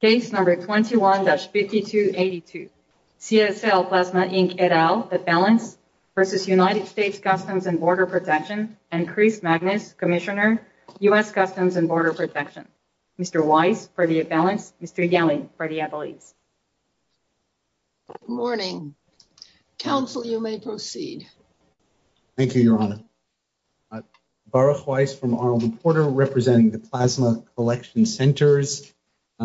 Case number 21-5282, CSL Plasma Inc. et al., at Balance v. United States Customs and Border Protection and Chris Magnus, Commissioner, U.S. Customs and Border Protection. Mr. Weiss for the at Balance, Mr. Yelling for the employees. Good morning. Council, you may proceed. Thank you, Your Honor. Baruch Weiss from Arnold and Porter representing the Plasma Collection Centers,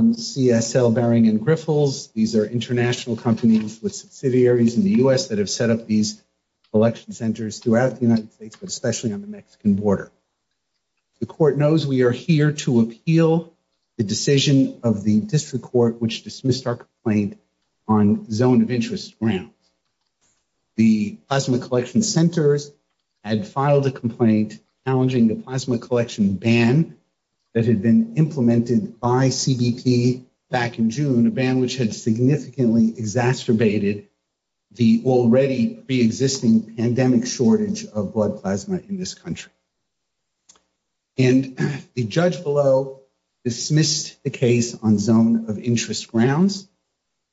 CSL, Baring, and Griffles. These are international companies with subsidiaries in the U.S. that have set up these collection centers throughout the United States, but especially on the Mexican border. The court knows we are here to appeal the decision of the district court, which dismissed our complaint on zone of interest grounds. The Plasma Collection Centers had filed a complaint challenging the Plasma Collection ban that had been implemented by CBP back in June, a ban which had significantly exacerbated the already pre-existing pandemic shortage of blood plasma in this country. And the judge below dismissed the case on zone of interest grounds,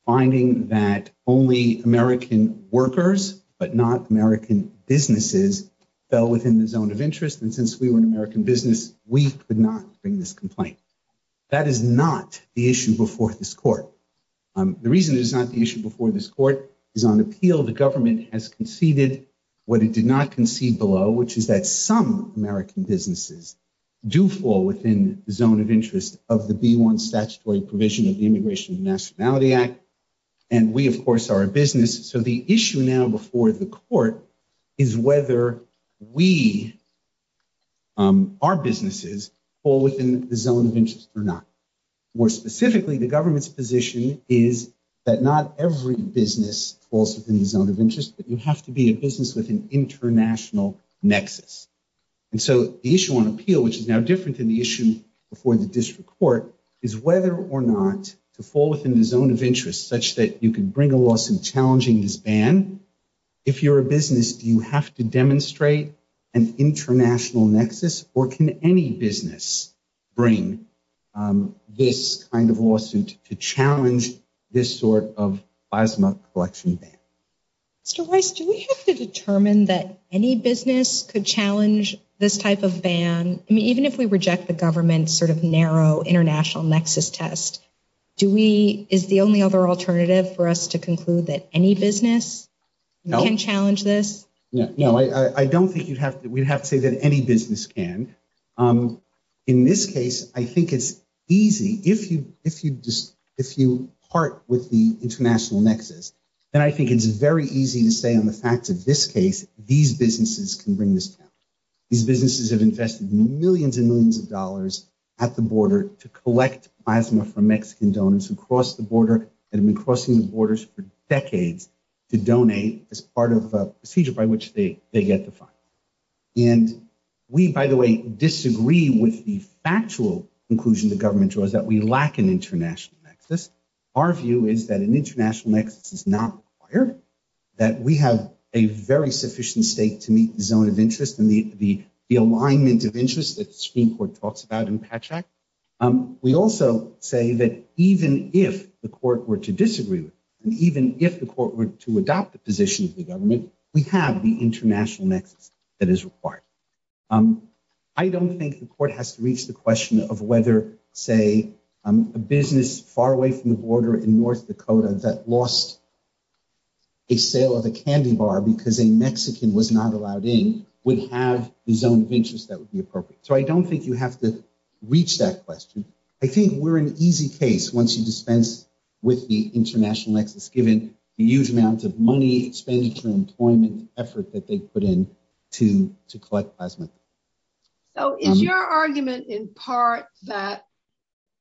finding that only American workers, but not American businesses, fell within the zone of interest. And since we were an American business, we could not bring this complaint. That is not the issue before this court. The reason it is not the issue before this court is on appeal, the government has conceded what it did not concede below, which is that some American businesses do fall within the zone of interest of the B-1 statutory provision of the Immigration and Nationality Act. And we, of course, are a business. So the issue now before the court is whether we, our businesses, fall within the zone of interest or not. More specifically, the government's position is that not every business falls within the zone of interest, but you have to be a business with an international nexus. And so the issue on appeal, which is now different than the issue before the district court, is whether or not to fall within the zone of interest such that you can bring a loss in challenging this ban. If you're a business, do you have to demonstrate an international nexus or can any business bring this kind of lawsuit to challenge this sort of plasma collection ban? Mr. Weiss, do we have to determine that any business could challenge this type of ban? I mean, even if we reject the government's sort of narrow international nexus test, do we, is the only other alternative for us to conclude that any business can challenge this? No, I don't think you'd have to, we'd have to say that any business can. In this case, I think it's easy. If you part with the international nexus, then I think it's very easy to say on the facts of this case, these businesses can bring this down. These businesses have invested millions and millions of dollars at the border to collect plasma from Mexican donors who crossed the border and have been crossing the borders for decades to donate as part of a procedure by which they get the fund. And we, by the way, disagree with the factual conclusion the government draws that we lack an international nexus. Our view is that an international nexus is not required, that we have a very sufficient stake to meet the zone of interest and the alignment of interest that the Supreme Court talks about in Patch Act. We also say that even if the court were to disagree with, and even if the court were to adopt the position of the government, we have the international nexus that is required. I don't think the court has to reach the question of whether, say, a business far away from the border in North Dakota that lost a sale of a candy bar because a Mexican was not allowed in would have the zone of interest that would be appropriate. So I don't think you have to reach that question. I think we're an easy case once you dispense with the international nexus, given the huge amounts of money, expenditure, employment effort that they put in to collect plasma. So is your argument in part that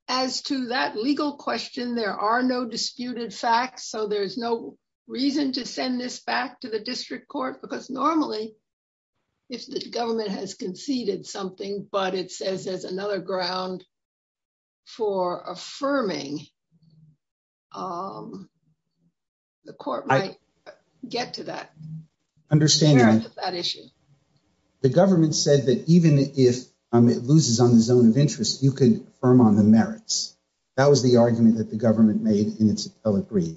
as to that legal question, there are no disputed facts, so there's no reason to send this back to the district court because normally if the government has conceded something, but it says there's another ground for affirming, the court might get to that. Understand that issue. The government said that even if it loses on the zone of interest, you can affirm on the merits. That was the argument that the government made in its appellate brief.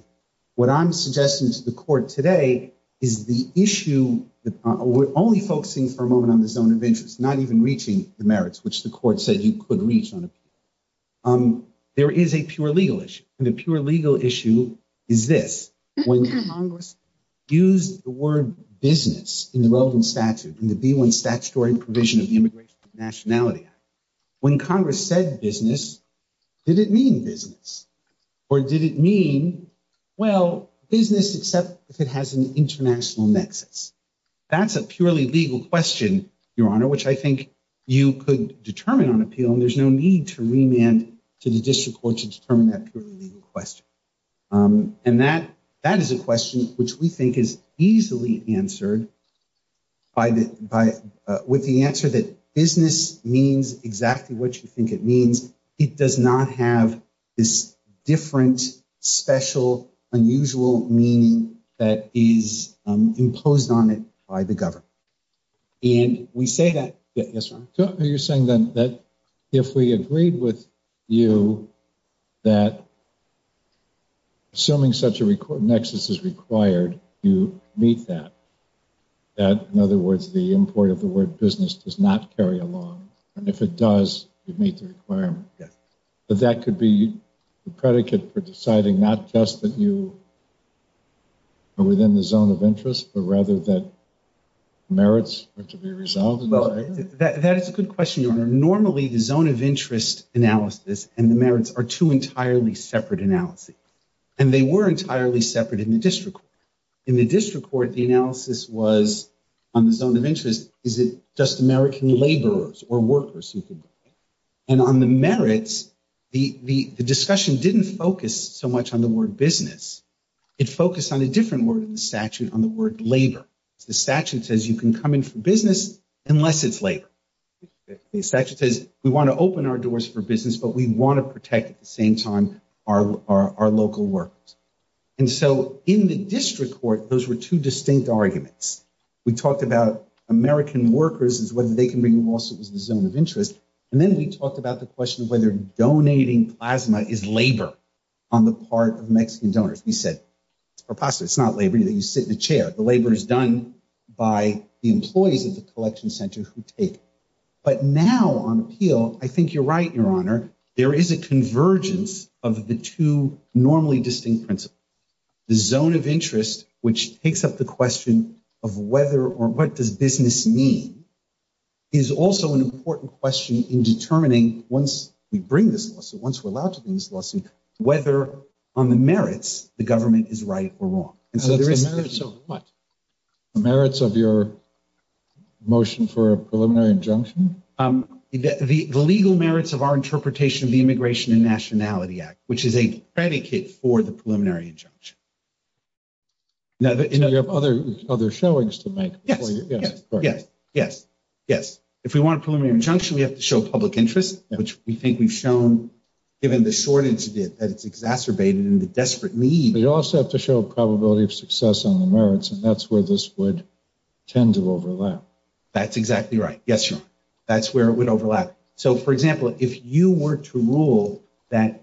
What I'm suggesting to the court today is the issue, we're only focusing for a moment on the zone of interest, not even reaching the merits, which the court said you could reach on appeal. There is a pure legal issue. And the pure legal issue is this, when Congress used the word business in the relevant statute in the B-1 statutory provision of the Immigration and Nationality Act, when Congress said business, did it mean business? Or did it mean, well, business, except if it has an international nexus? That's a purely legal question, Your Honor, which I think you could determine on appeal and there's no need to remand to the district court to determine that purely legal question. And that is a question which we think is easily answered with the answer that business means exactly what you think it means. It does not have this different, special, unusual meaning that is imposed on it by the government. And we say that- Yes, Your Honor. So you're saying then that if we agreed with you that assuming such a nexus is required, you meet that. That, in other words, the import of the word business does not carry along. And if it does, you meet the requirement. But that could be the predicate for deciding not just that you are within the zone of interest, but rather that merits are to be resolved. Well, that is a good question, Your Honor. Normally, the zone of interest analysis and the merits are two entirely separate analyses. And they were entirely separate in the district court. In the district court, the analysis was, on the zone of interest, is it just American laborers or workers who could... And on the merits, the discussion didn't focus so much on the word business. It focused on a different word in the statute, on the word labor. The statute says you can come in for business unless it's labor. The statute says we want to open our doors for business, but we want to protect at the same time our local workers. And so in the district court, those were two distinct arguments. We talked about American workers as whether they can bring lawsuits in the zone of interest. And then we talked about the question of whether donating plasma is labor on the part of Mexican donors. We said, it's preposterous. It's not labor that you sit in a chair. The labor is done by the employees of the collection center who take it. But now on appeal, I think you're right, Your Honor. There is a convergence of the two normally distinct principles. The zone of interest, which takes up the question of whether or what does business mean, is also an important question in determining once we bring this lawsuit, once we're allowed to bring this lawsuit, whether on the merits, the government is right or wrong. And so there is- The merits of what? The merits of your motion for a preliminary injunction? The legal merits of our interpretation of the Immigration and Nationality Act, which is a predicate for the preliminary injunction. Now that- So you have other showings to make before you- Yes, yes, yes, yes, yes. If we want a preliminary injunction, we have to show public interest, which we think we've shown, given the shortage it did, that it's exacerbated in the desperate need. We also have to show a probability of success on the merits, and that's where this would tend to overlap. That's exactly right, yes, Your Honor. That's where it would overlap. So for example, if you were to rule that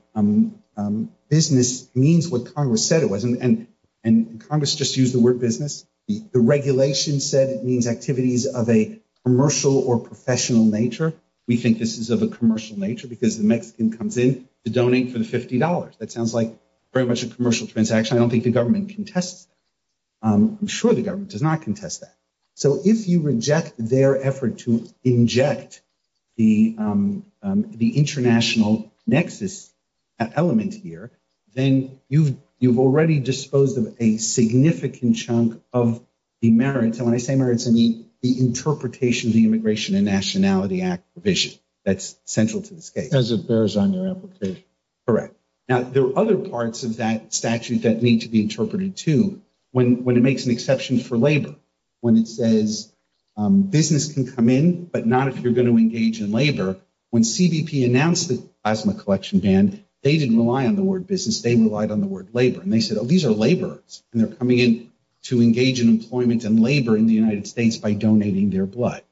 business means what Congress said it was, and Congress just used the word business, the regulation said it means activities of a commercial or professional nature, we think this is of a commercial nature because the Mexican comes in to donate for the $50. That sounds like very much a commercial transaction. I don't think the government contests that. I'm sure the government does not contest that. So if you reject their effort to inject the international nexus element here, then you've already disposed of a significant chunk of the merits, and when I say merits, the interpretation of the Immigration and Nationality Act provision. That's central to this case. As it bears on your application. Correct. Now, there are other parts of that statute that need to be interpreted, too. When it makes an exception for labor, when it says business can come in, but not if you're going to engage in labor, when CBP announced the plasma collection ban, they didn't rely on the word business. They relied on the word labor, and they said, oh, these are laborers, and they're coming in to engage in employment and labor in the United States by donating their blood.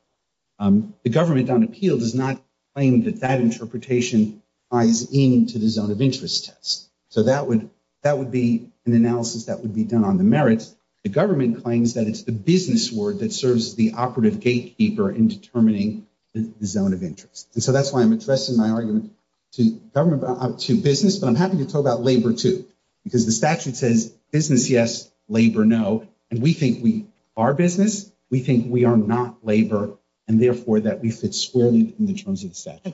The government on appeal does not claim that that interpretation ties in to the zone of interest test. So that would be an analysis that would be done on the merits. The government claims that it's the business word that serves as the operative gatekeeper in determining the zone of interest. And so that's why I'm addressing my argument to government, to business, but I'm happy to talk about labor, too, because the statute says business, yes, labor, no, and we think we are business. We think we are not labor, and therefore that we fit squarely in the terms of the statute.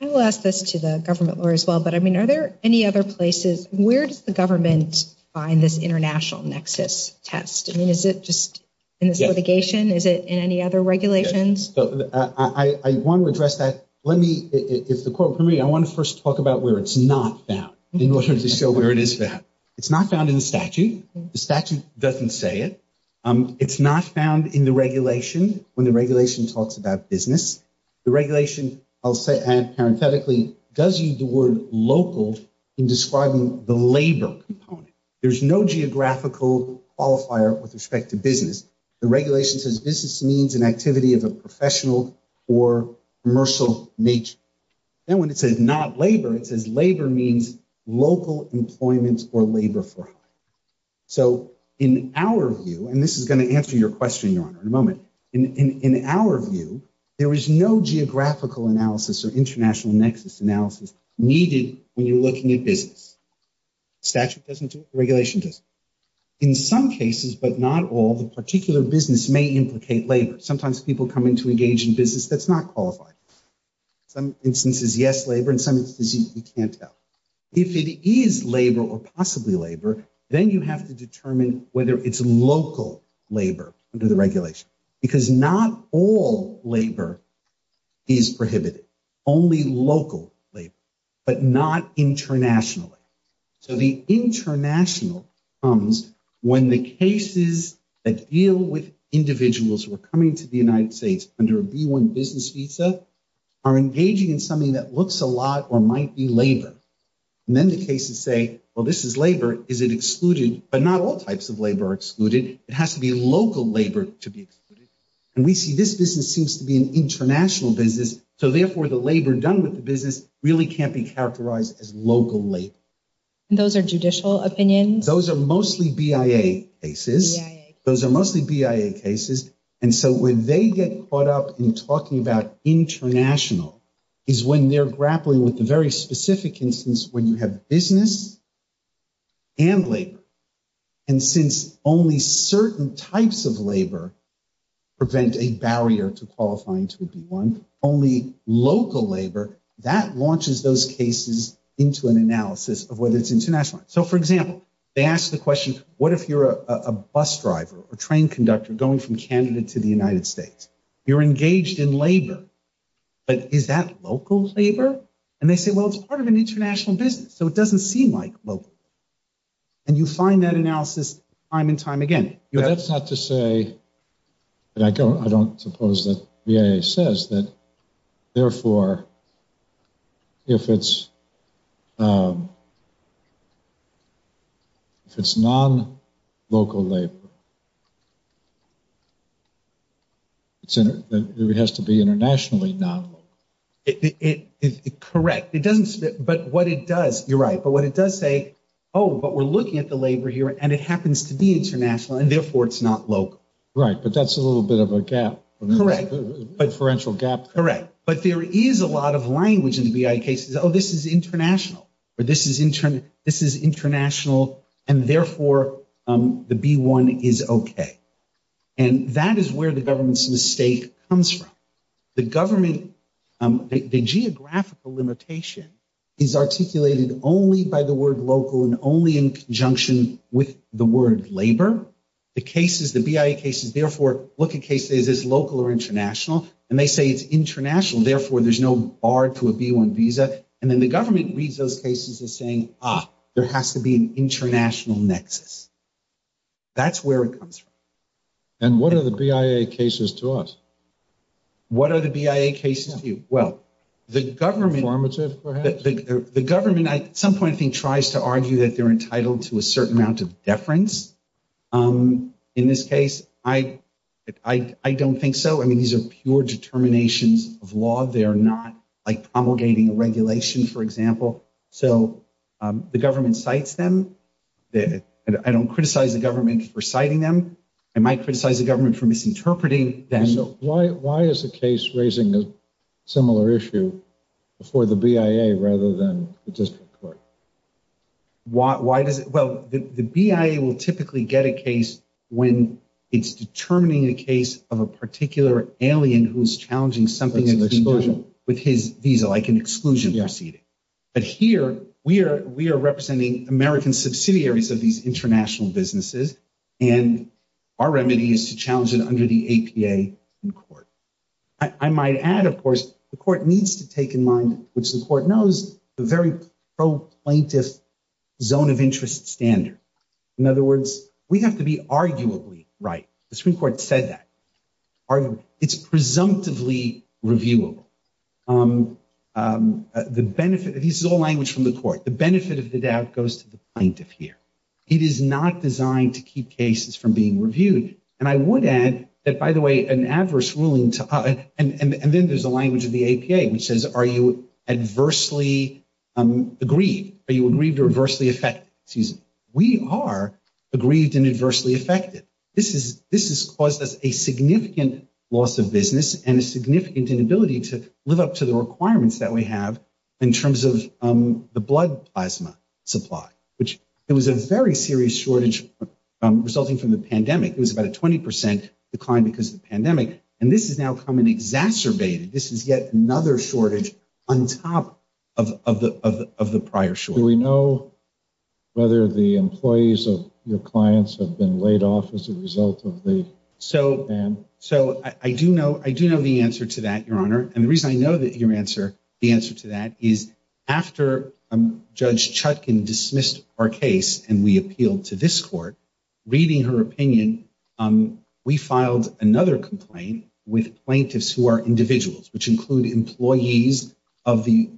I will ask this to the government lawyer as well, but I mean, are there any other places, where does the government find this international nexus test? I mean, is it just in this litigation? Is it in any other regulations? I want to address that. Let me, if the court permit me, I want to first talk about where it's not found in order to show where it is found. It's not found in the statute. The statute doesn't say it. It's not found in the regulation when the regulation talks about business. The regulation, I'll say parenthetically, does use the word local in describing the labor component. There's no geographical qualifier with respect to business. The regulation says business means an activity of a professional or commercial nature. Then when it says not labor, it says labor means local employment or labor for hire. So in our view, and this is going to answer your question, Your Honor, in a moment. In our view, there is no geographical analysis or international nexus analysis needed when you're looking at business. Statute doesn't do it, regulation doesn't. In some cases, but not all, the particular business may implicate labor. Sometimes people come in to engage in business that's not qualified. Some instances, yes, labor, and some instances you can't tell. If it is labor or possibly labor, then you have to determine whether it's local labor under the regulation because not all labor is prohibited, only local labor, but not internationally. So the international comes when the cases that deal with individuals who are coming to the United States under a B-1 business visa are engaging in something that looks a lot or might be labor. And then the cases say, well, this is labor. Is it excluded? But not all types of labor are excluded. It has to be local labor to be excluded. And we see this business seems to be an international business. So therefore the labor done with the business really can't be characterized as local labor. And those are judicial opinions? Those are mostly BIA cases. Those are mostly BIA cases. And so when they get caught up in talking about international is when they're grappling with the very specific instance when you have business and labor. And since only certain types of labor prevent a barrier to qualifying to a B-1, only local labor, that launches those cases into an analysis of whether it's international. So for example, they ask the question, what if you're a bus driver or train conductor going from Canada to the United States? You're engaged in labor, but is that local labor? And they say, well, it's part of an international business. So it doesn't seem like local. And you find that analysis time and time again. But that's not to say that I don't suppose that BIA says that, therefore, if it's non-local labor, it has to be internationally non-local. Correct. It doesn't spit, but what it does, you're right. But what it does say, oh, but we're looking at the labor here and it happens to be international and therefore it's not local. Right, but that's a little bit of a gap. Correct. A differential gap. Correct. But there is a lot of language in the BIA cases. Oh, this is international or this is international and therefore the B-1 is okay. And that is where the government's mistake comes from. The government, the geographical limitation is articulated only by the word local and only in conjunction with the word labor. The cases, the BIA cases, therefore look at cases as local or international. And they say it's international, therefore there's no bar to a B-1 visa. And then the government reads those cases as saying, ah, there has to be an international nexus. That's where it comes from. And what are the BIA cases to us? What are the BIA cases to you? Well, the government- Affirmative, perhaps? The government, at some point, I think, tries to argue that they're entitled to a certain amount of deference. In this case, I don't think so. I mean, these are pure determinations of law. They're not like promulgating a regulation, for example. So the government cites them. I don't criticize the government for citing them. I might criticize the government for misinterpreting them. Why is the case raising a similar issue before the BIA rather than the district court? Why does it? Well, the BIA will typically get a case when it's determining a case of a particular alien who's challenging something that's been done with his visa, like an exclusion proceeding. But here, we are representing American subsidiaries of these international businesses, and our remedy is to challenge it under the APA in court. I might add, of course, the court needs to take in mind, which the court knows, the very pro-plaintiff zone of interest standard. In other words, we have to be arguably right. The Supreme Court said that. It's presumptively reviewable. The benefit, this is all language from the court. The benefit of the doubt goes to the plaintiff here. It is not designed to keep cases from being reviewed. And I would add that, by the way, an adverse ruling, and then there's a language of the APA, which says, are you adversely aggrieved? Are you aggrieved or adversely affected? Excuse me. We are aggrieved and adversely affected. This has caused us a significant loss of business and a significant inability to live up to the requirements that we have in terms of the blood plasma supply, which it was a very serious shortage resulting from the pandemic. It was about a 20% decline because of the pandemic. And this has now come and exacerbated. This is yet another shortage on top of the prior shortage. Do we know whether the employees of your clients have been laid off as a result of the ban? So I do know the answer to that, Your Honor. And the reason I know the answer to that is after Judge Chutkin dismissed our case and we appealed to this court, reading her opinion, we filed another complaint with plaintiffs who are individuals, which include employees of the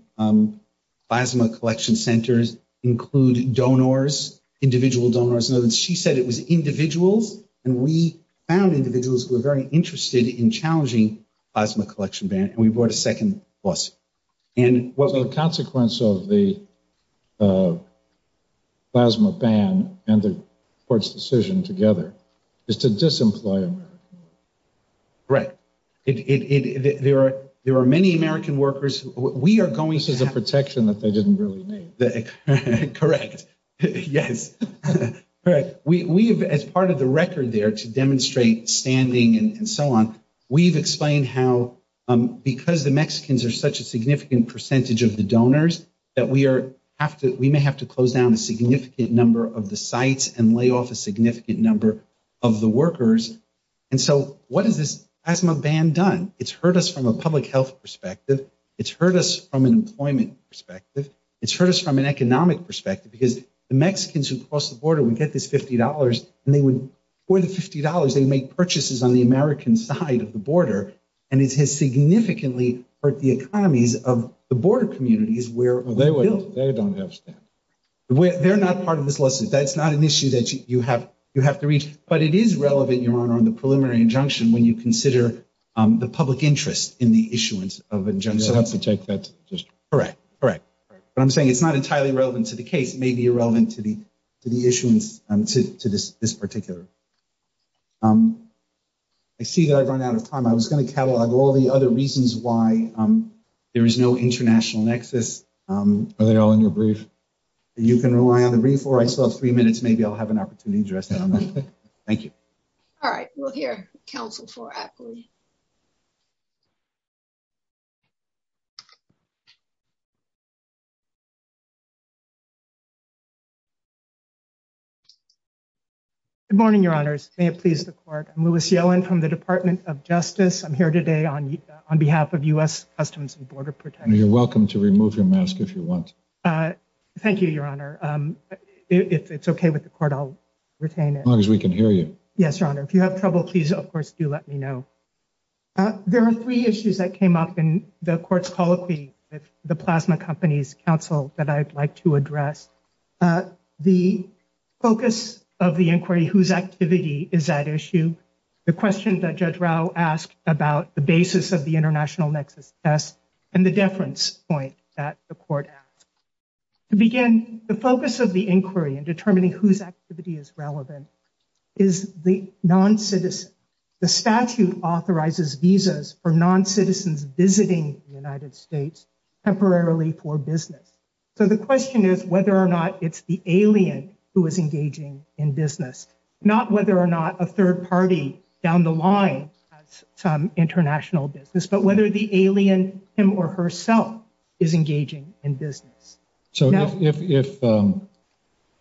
plasma collection centers, include donors, individual donors. And she said it was individuals. And we found individuals who were very interested in challenging plasma collection ban. And we brought a second lawsuit. And what- So the consequence of the plasma ban and the court's decision together is to disemploy American workers. Right, there are many American workers. We are going- This is a protection that they didn't really need. Correct, yes. Correct, we have, as part of the record there to demonstrate standing and so on, we've explained how because the Mexicans are such a significant percentage of the donors that we may have to close down a significant number of the sites and lay off a significant number of the workers. And so what has this plasma ban done? It's hurt us from a public health perspective. It's hurt us from an employment perspective. It's hurt us from an economic perspective because the Mexicans who cross the border would get this $50 and they would, for the $50, they would make purchases on the American side of the border. And it has significantly hurt the economies of the border communities where we're built. They don't have staff. They're not part of this lawsuit. That's not an issue that you have to reach. But it is relevant, Your Honor, on the preliminary injunction when you consider the public interest in the issuance of injunctions. You'll have to take that to the district. Correct, correct. But I'm saying it's not entirely relevant to the case. It may be irrelevant to the issuance to this particular. I see that I've run out of time. I was gonna catalog all the other reasons why there is no international nexus. Are they all in your brief? You can rely on the brief or I still have three minutes. Maybe I'll have an opportunity to address that on that. Thank you. All right, we'll hear counsel for aptly. Good morning, Your Honors. May it please the court. I'm Louis Yellen from the Department of Justice. I'm here today on behalf of US Customs and Border Protection. You're welcome to remove your mask if you want. Thank you, Your Honor. If it's okay with the court, I'll retain it. As long as we can hear you. Yes, Your Honor. If you have trouble, please, of course, do let me know. There are three issues that came up in the court's policy with the Plasma Company's counsel that I'd like to address. The focus of the inquiry, whose activity is at issue, the question that Judge Rao asked about the basis of the international nexus test and the deference point that the court asked. To begin, the focus of the inquiry in determining whose activity is relevant is the non-citizen. The statute authorizes visas for non-citizens visiting the United States temporarily for business. So the question is whether or not it's the alien who is engaging in business, not whether or not a third party down the line has some international business, but whether the alien, him or herself, is engaging in business. So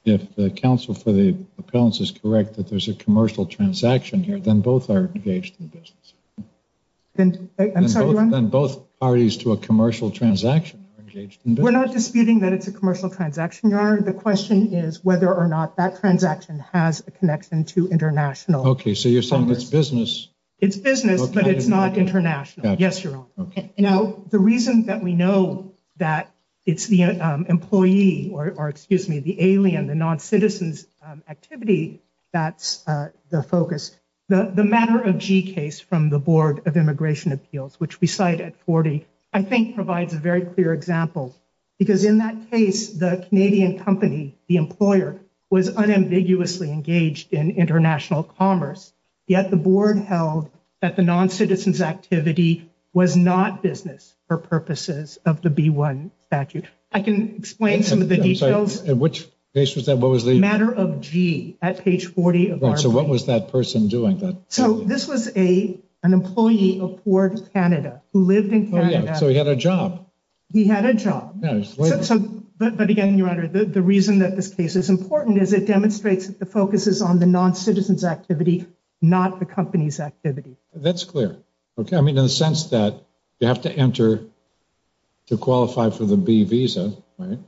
if the counsel for the appellants is correct that there's a commercial transaction here, then both are engaged in business. I'm sorry, Your Honor? Then both parties to a commercial transaction are engaged in business. We're not disputing that it's a commercial transaction, Your Honor. The question is whether or not that transaction has a connection to international. Okay, so you're saying it's business? It's business, but it's not international. Yes, Your Honor. Now, the reason that we know that it's the employee, or excuse me, the alien, the non-citizen's activity, that's the focus. The matter of G case from the Board of Immigration Appeals, which we cite at 40, I think provides a very clear example, because in that case, the Canadian company, the employer, was unambiguously engaged in international commerce, yet the board held that the non-citizen's activity was not business for purposes of the B-1 statute. I can explain some of the details. In which case was that? What was the- Matter of G at page 40 of our- So what was that person doing? So this was an employee aboard Canada who lived in Canada. Oh, yeah, so he had a job. He had a job. Yeah, he was- So, but again, Your Honor, the reason that this case is important is it demonstrates that the focus is on the non-citizen's activity, not the company's activity. That's clear. Okay, I mean, in the sense that you have to enter to qualify for the B visa, right?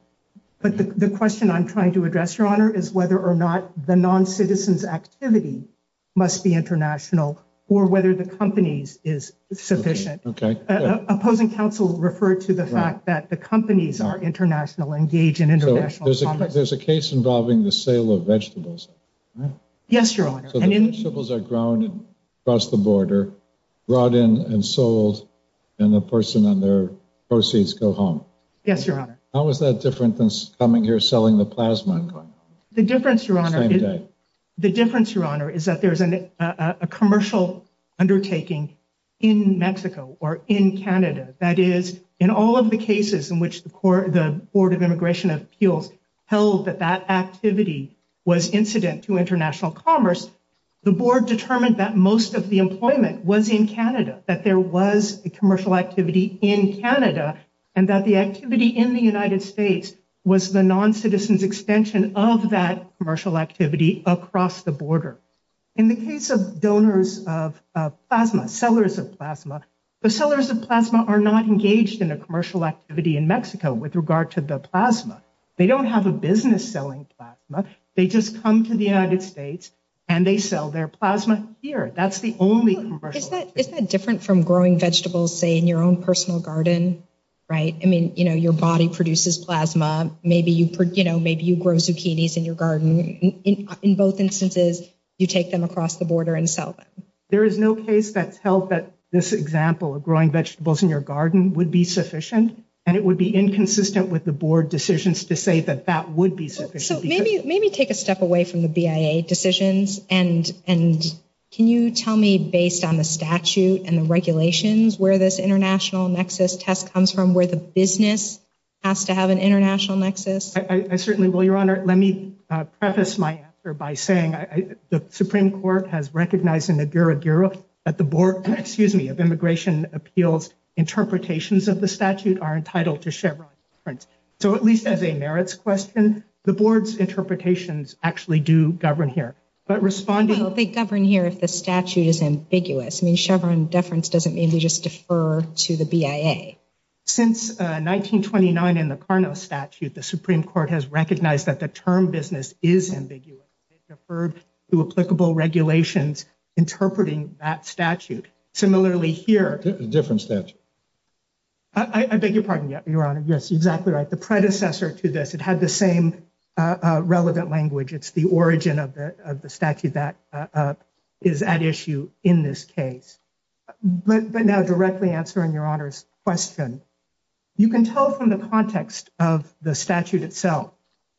But the question I'm trying to address, Your Honor, is whether or not the non-citizen's activity must be international, or whether the company's is sufficient. Opposing counsel referred to the fact that the companies are international, engage in international commerce. There's a case involving the sale of vegetables. Yes, Your Honor. So the vegetables are grown across the border, brought in and sold, and the person and their proceeds go home. Yes, Your Honor. How is that different than coming here, selling the plasma? The difference, Your Honor- Same day. The difference, Your Honor, is that there's a commercial undertaking in Mexico or in Canada. That is, in all of the cases in which the Board of Immigration Appeals held that that activity was incident to international commerce, the board determined that most of the employment was in Canada, that there was a commercial activity in Canada, and that the activity in the United States was the non-citizen's extension of that commercial activity across the border. In the case of donors of plasma, sellers of plasma, the sellers of plasma are not engaged in a commercial activity in Mexico with regard to the plasma. They don't have a business selling plasma. They just come to the United States and they sell their plasma here. That's the only commercial- Isn't that different from growing vegetables, say, in your own personal garden, right? I mean, you know, your body produces plasma. Maybe you, you know, maybe you grow zucchinis in your garden. In both instances, you take them across the border and sell them. There is no case that's held that this example of growing vegetables in your garden would be sufficient, and it would be inconsistent with the board decisions to say that that would be sufficient. So maybe take a step away from the BIA decisions, and can you tell me, based on the statute and the regulations, where this international nexus test comes from, where the business has to have an international nexus? I certainly will, Your Honor. Let me preface my answer by saying the Supreme Court has recognized in the Gura Gura that the board, excuse me, of Immigration Appeals interpretations of the statute are entitled to Chevron deference. So at least as a merits question, the board's interpretations actually do govern here. But responding- Well, they govern here if the statute is ambiguous. I mean, Chevron deference doesn't mean they just defer to the BIA. Since 1929 in the Carnot statute, the Supreme Court has recognized that the term business is ambiguous. They deferred to applicable regulations interpreting that statute. Similarly here- A different statute. I beg your pardon, Your Honor. Yes, exactly right. The predecessor to this, it had the same relevant language. It's the origin of the statute that is at issue in this case. But now directly answering Your Honor's question. You can tell from the context of the statute itself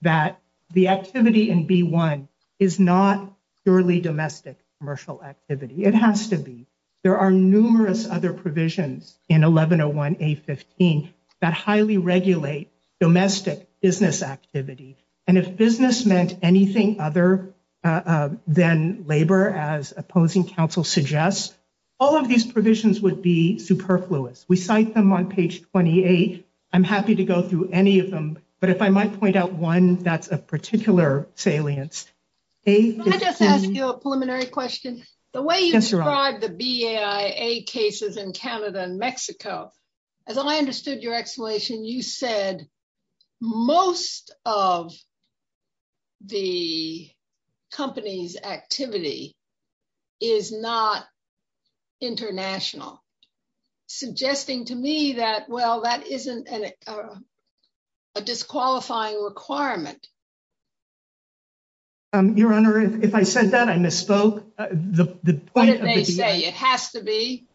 that the activity in B-1 is not purely domestic commercial activity. It has to be. There are numerous other provisions in 1101A-15 that highly regulate domestic business activity. And if business meant anything other than labor, as opposing counsel suggests, all of these provisions would be superfluous. We cite them on page 28. I'm happy to go through any of them, but if I might point out one, that's a particular salience. A- Can I just ask you a preliminary question? The way you described the BIA cases in Canada and Mexico, as I understood your explanation, you said most of the company's activity is not international. Suggesting to me that, well, that isn't a disqualifying requirement. Your Honor, if I said that, I misspoke. The point of the BIA- What did they say? It has to be?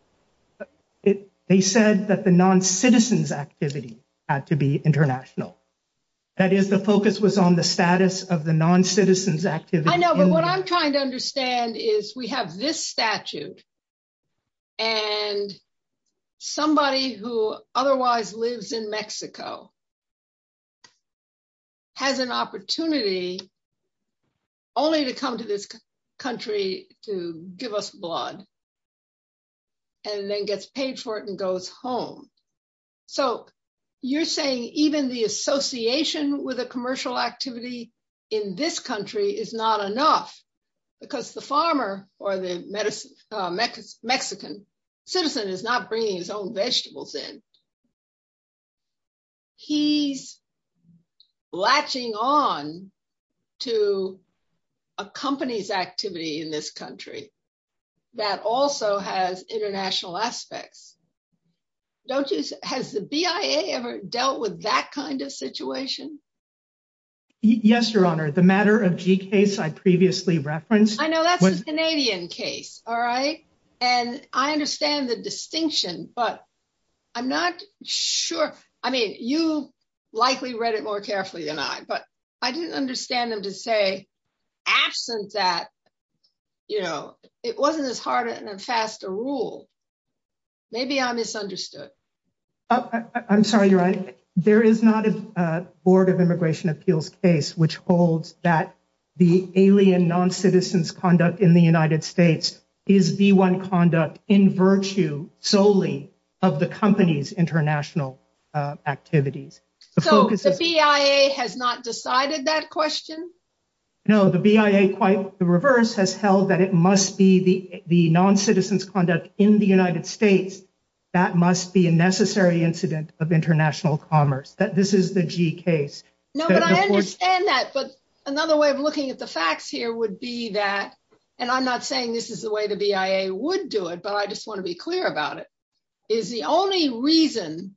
They said that the non-citizens activity had to be international. That is the focus was on the status of the non-citizens activity- I know, but what I'm trying to understand is we have this statute, and somebody who otherwise lives in Mexico has an opportunity only to come to this country to give us blood, and then gets paid for it and goes home. So you're saying even the association with a commercial activity in this country is not enough because the farmer or the Mexican citizen is not bringing his own vegetables in. He's latching on to a company's activity in this country that also has international aspects. Has the BIA ever dealt with that kind of situation? Yes, Your Honor. The matter of G case I previously referenced- I know that's the Canadian case, all right? And I understand the distinction, but I'm not sure. I mean, you likely read it more carefully than I, but I didn't understand them to say, absent that it wasn't as hard and fast to rule. Maybe I misunderstood. I'm sorry, Your Honor. There is not a Board of Immigration Appeals case which holds that the alien non-citizens conduct in the United States is V1 conduct in virtue solely of the company's international activities. So the BIA has not decided that question? No, the BIA, quite the reverse, has held that it must be the non-citizens conduct in the United States. That must be a necessary incident of international commerce, that this is the G case. No, but I understand that, but another way of looking at the facts here would be that, and I'm not saying this is the way the BIA would do it, but I just want to be clear about it, is the only reason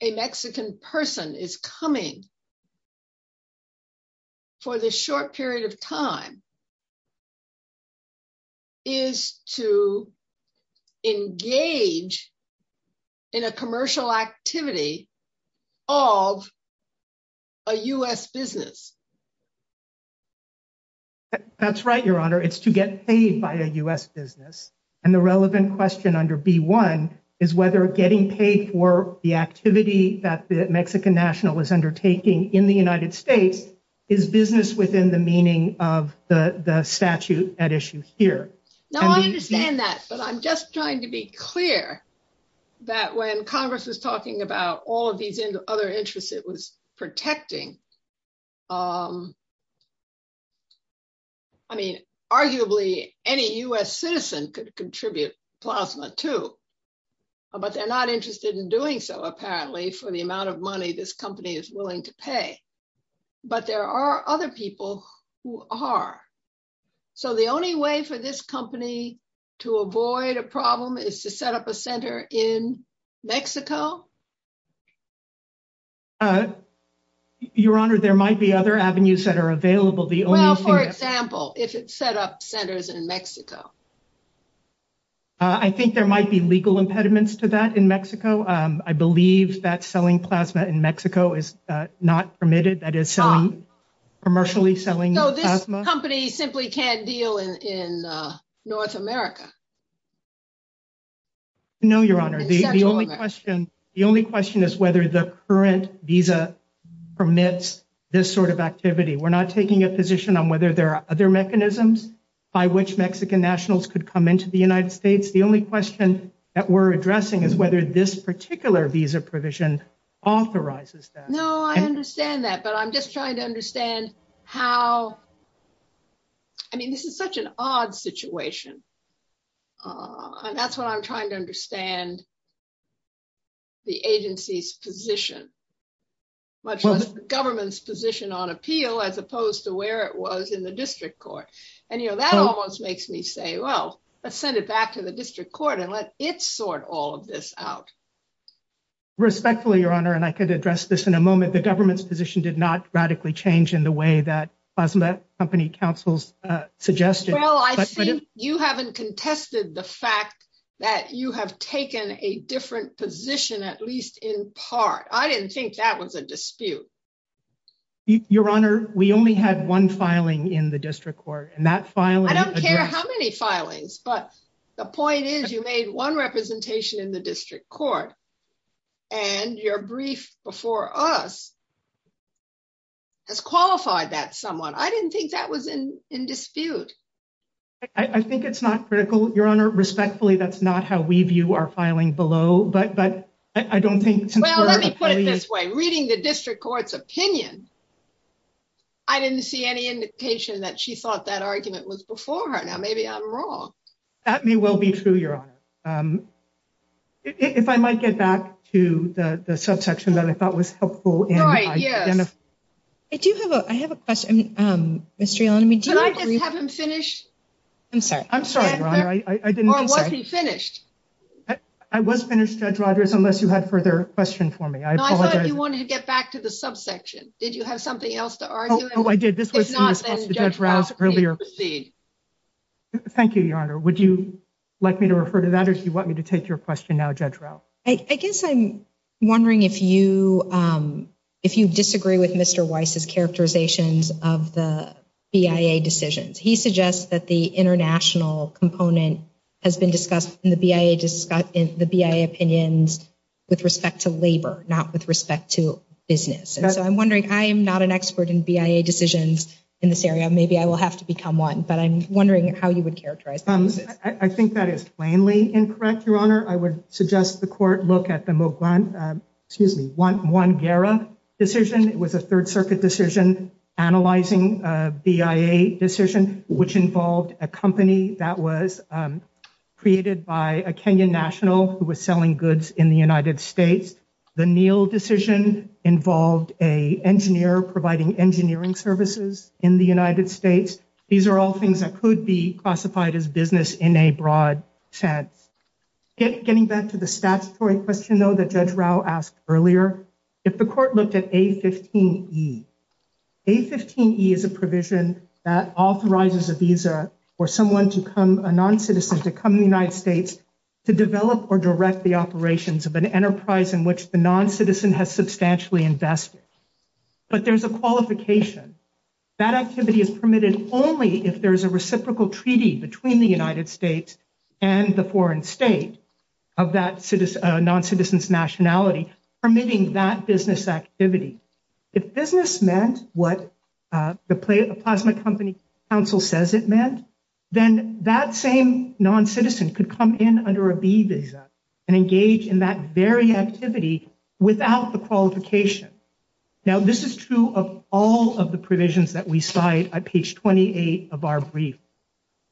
a Mexican person is coming for this short period of time is to engage in a commercial activity of a U.S. business. That's right, Your Honor. It's to get paid by a U.S. business. And the relevant question under B1 is whether getting paid for the activity that the Mexican national is undertaking in the United States is business within the meaning of the statute at issue here. Now, I understand that, but I'm just trying to be clear that when Congress was talking about all of these other interests it was protecting, I mean, arguably any U.S. citizen could contribute plasma too, but they're not interested in doing so apparently for the amount of money this company is willing to pay. But there are other people who are. So the only way for this company to avoid a problem is to set up a center in Mexico? Your Honor, there might be other avenues that are available. The only thing- Well, for example, if it's set up centers in Mexico. I think there might be legal impediments to that in Mexico. I believe that selling plasma in Mexico is not permitted. That is selling, commercially selling plasma. So this company simply can't deal in North America. No, Your Honor, the only question is whether the current visa permits this sort of activity. We're not taking a position on whether there are other mechanisms by which Mexican nationals could come into the United States. The only question that we're addressing is whether this particular visa provision authorizes that. No, I understand that, but I'm just trying to understand how, I mean, this is such an odd situation. And that's what I'm trying to understand the agency's position, much less the government's position on appeal as opposed to where it was in the district court. And that almost makes me say, well, let's send it back to the district court and let it sort all of this out. Respectfully, Your Honor, and I could address this in a moment, the government's position did not radically change in the way that Plasma Company Counsel's suggested. Well, I think you haven't contested the fact that you have taken a different position, at least in part. I didn't think that was a dispute. Your Honor, we only had one filing in the district court and that filing- I don't care how many filings, but the point is you made one representation in the district court and your brief before us has qualified that somewhat. I didn't think that was in dispute. I think it's not critical, Your Honor. Respectfully, that's not how we view our filing below, but I don't think- Well, let me put it this way. Reading the district court's opinion, I didn't see any indication that she thought that argument was before her. Now, maybe I'm wrong. That may well be true, Your Honor. If I might get back to the subsection that I thought was helpful- Right, yes. I do have a, I have a question, Mr. Yellen. Could I just have him finish? I'm sorry. I'm sorry, Your Honor. Or was he finished? I was finished, Judge Rogers, unless you had further question for me. I apologize. No, I thought you wanted to get back to the subsection. Did you have something else to argue? Oh, I did. This was in response to Judge Rouse earlier. Thank you, Your Honor. Would you like me to refer to that or do you want me to take your question now, Judge Rouse? I guess I'm wondering if you disagree with Mr. Weiss's characterizations of the BIA decisions. He suggests that the international component has been discussed in the BIA opinions with respect to labor, not with respect to business. And so I'm wondering, I am not an expert in BIA decisions in this area. Maybe I will have to become one, but I'm wondering how you would characterize this. I think that is plainly incorrect, Your Honor. I would suggest the court look at the Muguan, excuse me, Muguan-Guerra decision. It was a Third Circuit decision analyzing a BIA decision, which involved a company that was created by a Kenyan national who was selling goods in the United States. The Neal decision involved a engineer providing engineering services in the United States. These are all things that could be classified as business in a broad sense. Getting back to the statutory question, though, that Judge Rouse asked earlier, if the court looked at A-15E, A-15E is a provision that authorizes a visa for a non-citizen to come to the United States to develop or direct the operations of an enterprise in which the non-citizen has substantially invested. But there's a qualification. That activity is permitted only if there's a reciprocal treaty between the United States and the foreign state of that non-citizen's nationality, permitting that business activity. If business meant what the Plasma Company Council says it meant, then that same non-citizen could come in under a B visa and engage in that very activity without the qualification. Now, this is true of all of the provisions that we cite at page 28 of our brief.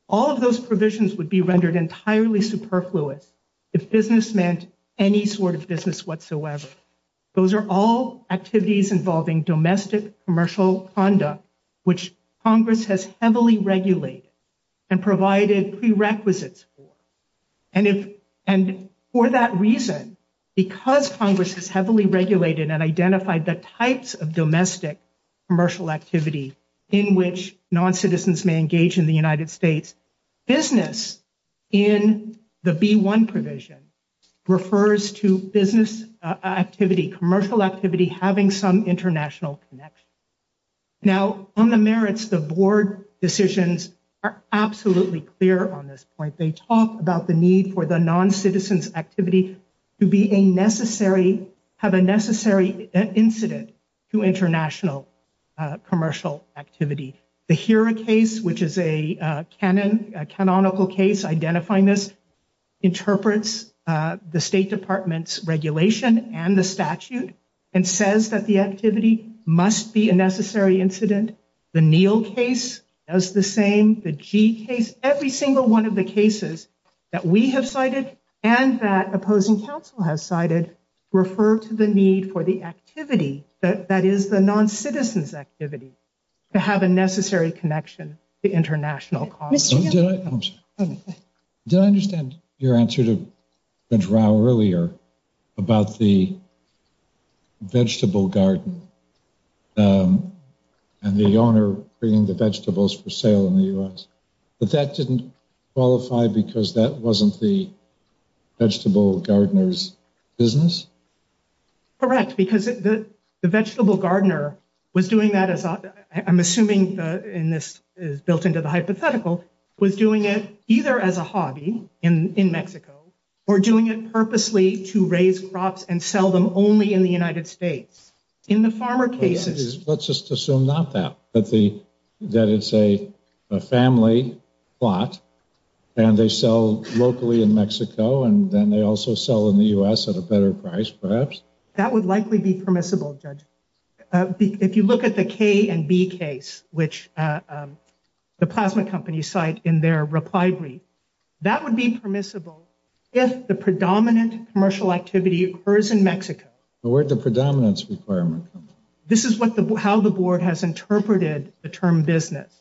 All of those provisions would be rendered entirely superfluous if business meant any sort of business whatsoever. Those are all activities involving domestic commercial conduct, which Congress has heavily regulated and provided prerequisites for. And for that reason, because Congress has heavily regulated and identified the types of domestic commercial activity in which non-citizens may engage in the United States, business in the B-1 provision refers to business activity, commercial activity, having some international connection. Now, on the merits, the board decisions are absolutely clear on this point. They talk about the need for the non-citizen's activity to be a necessary, have a necessary incident to international commercial activity. The HERA case, which is a canonical case identifying this, interprets the State Department's regulation and the statute and says that the activity must be a necessary incident. The NEAL case does the same. The G case, every single one of the cases that we have cited and that opposing counsel has cited refer to the need for the activity, that is the non-citizen's activity, to have a necessary connection to international commerce. Mr. Chairman. I'm sorry. Did I understand your answer to Judge Rao earlier about the vegetable garden and the owner bringing the vegetables for sale in the U.S.? But that didn't qualify because that wasn't the vegetable gardener's business? Correct, because the vegetable gardener was doing that as, I'm assuming, and this is built into the hypothetical, was doing it either as a hobby in Mexico or doing it purposely to raise crops and sell them only in the United States. In the farmer cases- Let's just assume not that, that it's a family plot and they sell locally in Mexico and then they also sell in the U.S. at a better price, perhaps. That would likely be permissible, Judge, if you look at the K and B case, which the plasma company cite in their reply brief, that would be permissible if the predominant commercial activity occurs in Mexico. But where'd the predominance requirement come from? This is how the board has interpreted the term business.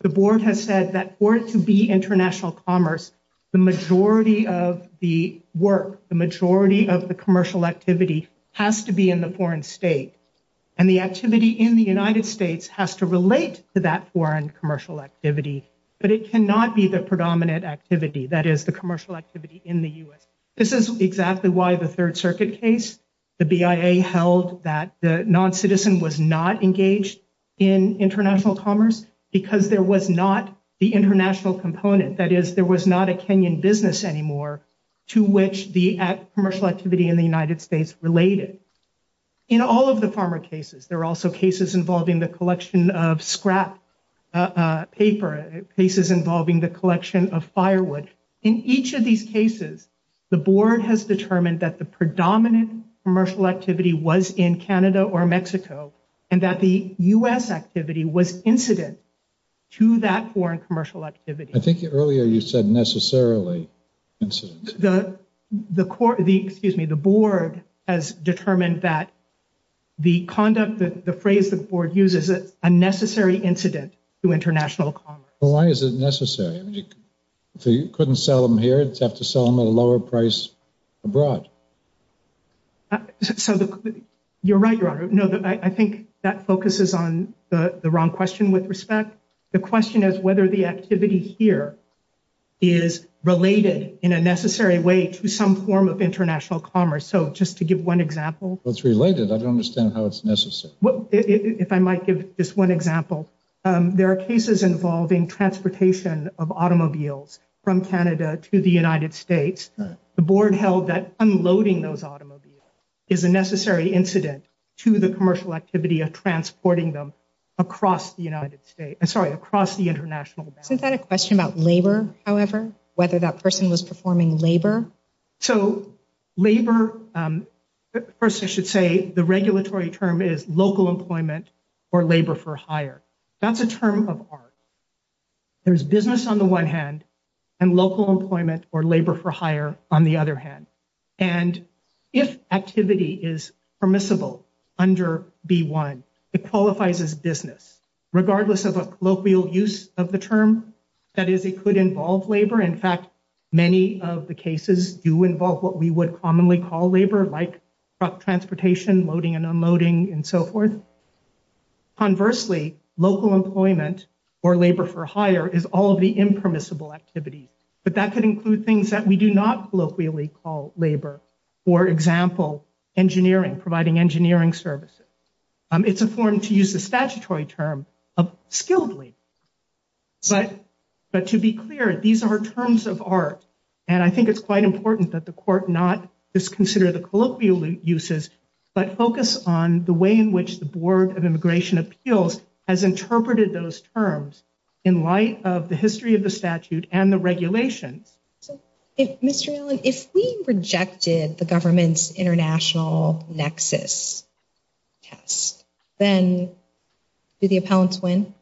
The board has said that for it to be international commerce, the majority of the work, the majority of the commercial activity has to be in the foreign state. And the activity in the United States has to relate to that foreign commercial activity, but it cannot be the predominant activity, that is the commercial activity in the U.S. This is exactly why the Third Circuit case, the BIA held that the non-citizen was not engaged in international commerce because there was not the international component. That is, there was not a Kenyan business anymore to which the commercial activity in the United States related. In all of the farmer cases, there are also cases involving the collection of scrap paper, cases involving the collection of firewood. In each of these cases, the board has determined that the predominant commercial activity was in Canada or Mexico, and that the U.S. activity was incident to that foreign commercial activity. I think earlier you said necessarily incident. The court, excuse me, the board has determined that the conduct, the phrase the board uses is a necessary incident to international commerce. Well, why is it necessary? I mean, if you couldn't sell them here, you'd have to sell them at a lower price abroad. So you're right, Your Honor. No, I think that focuses on the wrong question with respect. The question is whether the activity here is related in a necessary way to some form of international commerce. So just to give one example. Well, it's related. I don't understand how it's necessary. If I might give just one example, there are cases involving transportation of automobiles from Canada to the United States. The board held that unloading those automobiles is a necessary incident to the commercial activity of transporting them across the United States, I'm sorry, across the international boundary. Isn't that a question about labor, however, whether that person was performing labor? So labor, first I should say the regulatory term is local employment or labor for hire. That's a term of art. There's business on the one hand and local employment or labor for hire on the other hand. And if activity is permissible under B-1, it qualifies as business, regardless of a colloquial use of the term, that is it could involve labor. In fact, many of the cases do involve what we would commonly call labor like transportation, loading and unloading and so forth. Conversely, local employment or labor for hire is all of the impermissible activities. But that could include things that we do not colloquially call labor. For example, engineering, providing engineering services. It's a form to use the statutory term of skilledly. But to be clear, these are terms of art. And I think it's quite important that the court not just consider the colloquial uses, but focus on the way in which the Board of Immigration Appeals has interpreted those terms in light of the history of the statute and the regulations. Mr. Allen, if we rejected the government's international nexus, yes, then do the appellants win?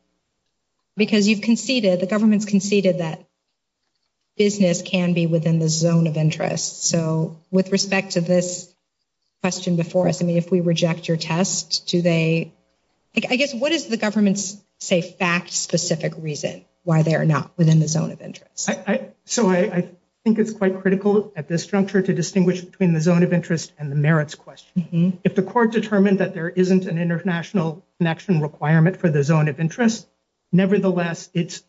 Because you've conceded, the government's conceded that business can be within the zone of interest. So with respect to this question before us, I mean, if we reject your test, do they, I guess, what is the government's say fact specific reason why they're not within the zone of interest? So I think it's quite critical at this juncture to distinguish between the zone of interest and the merits question. If the court determined that there isn't an international connection requirement for the zone of interest, nevertheless, it's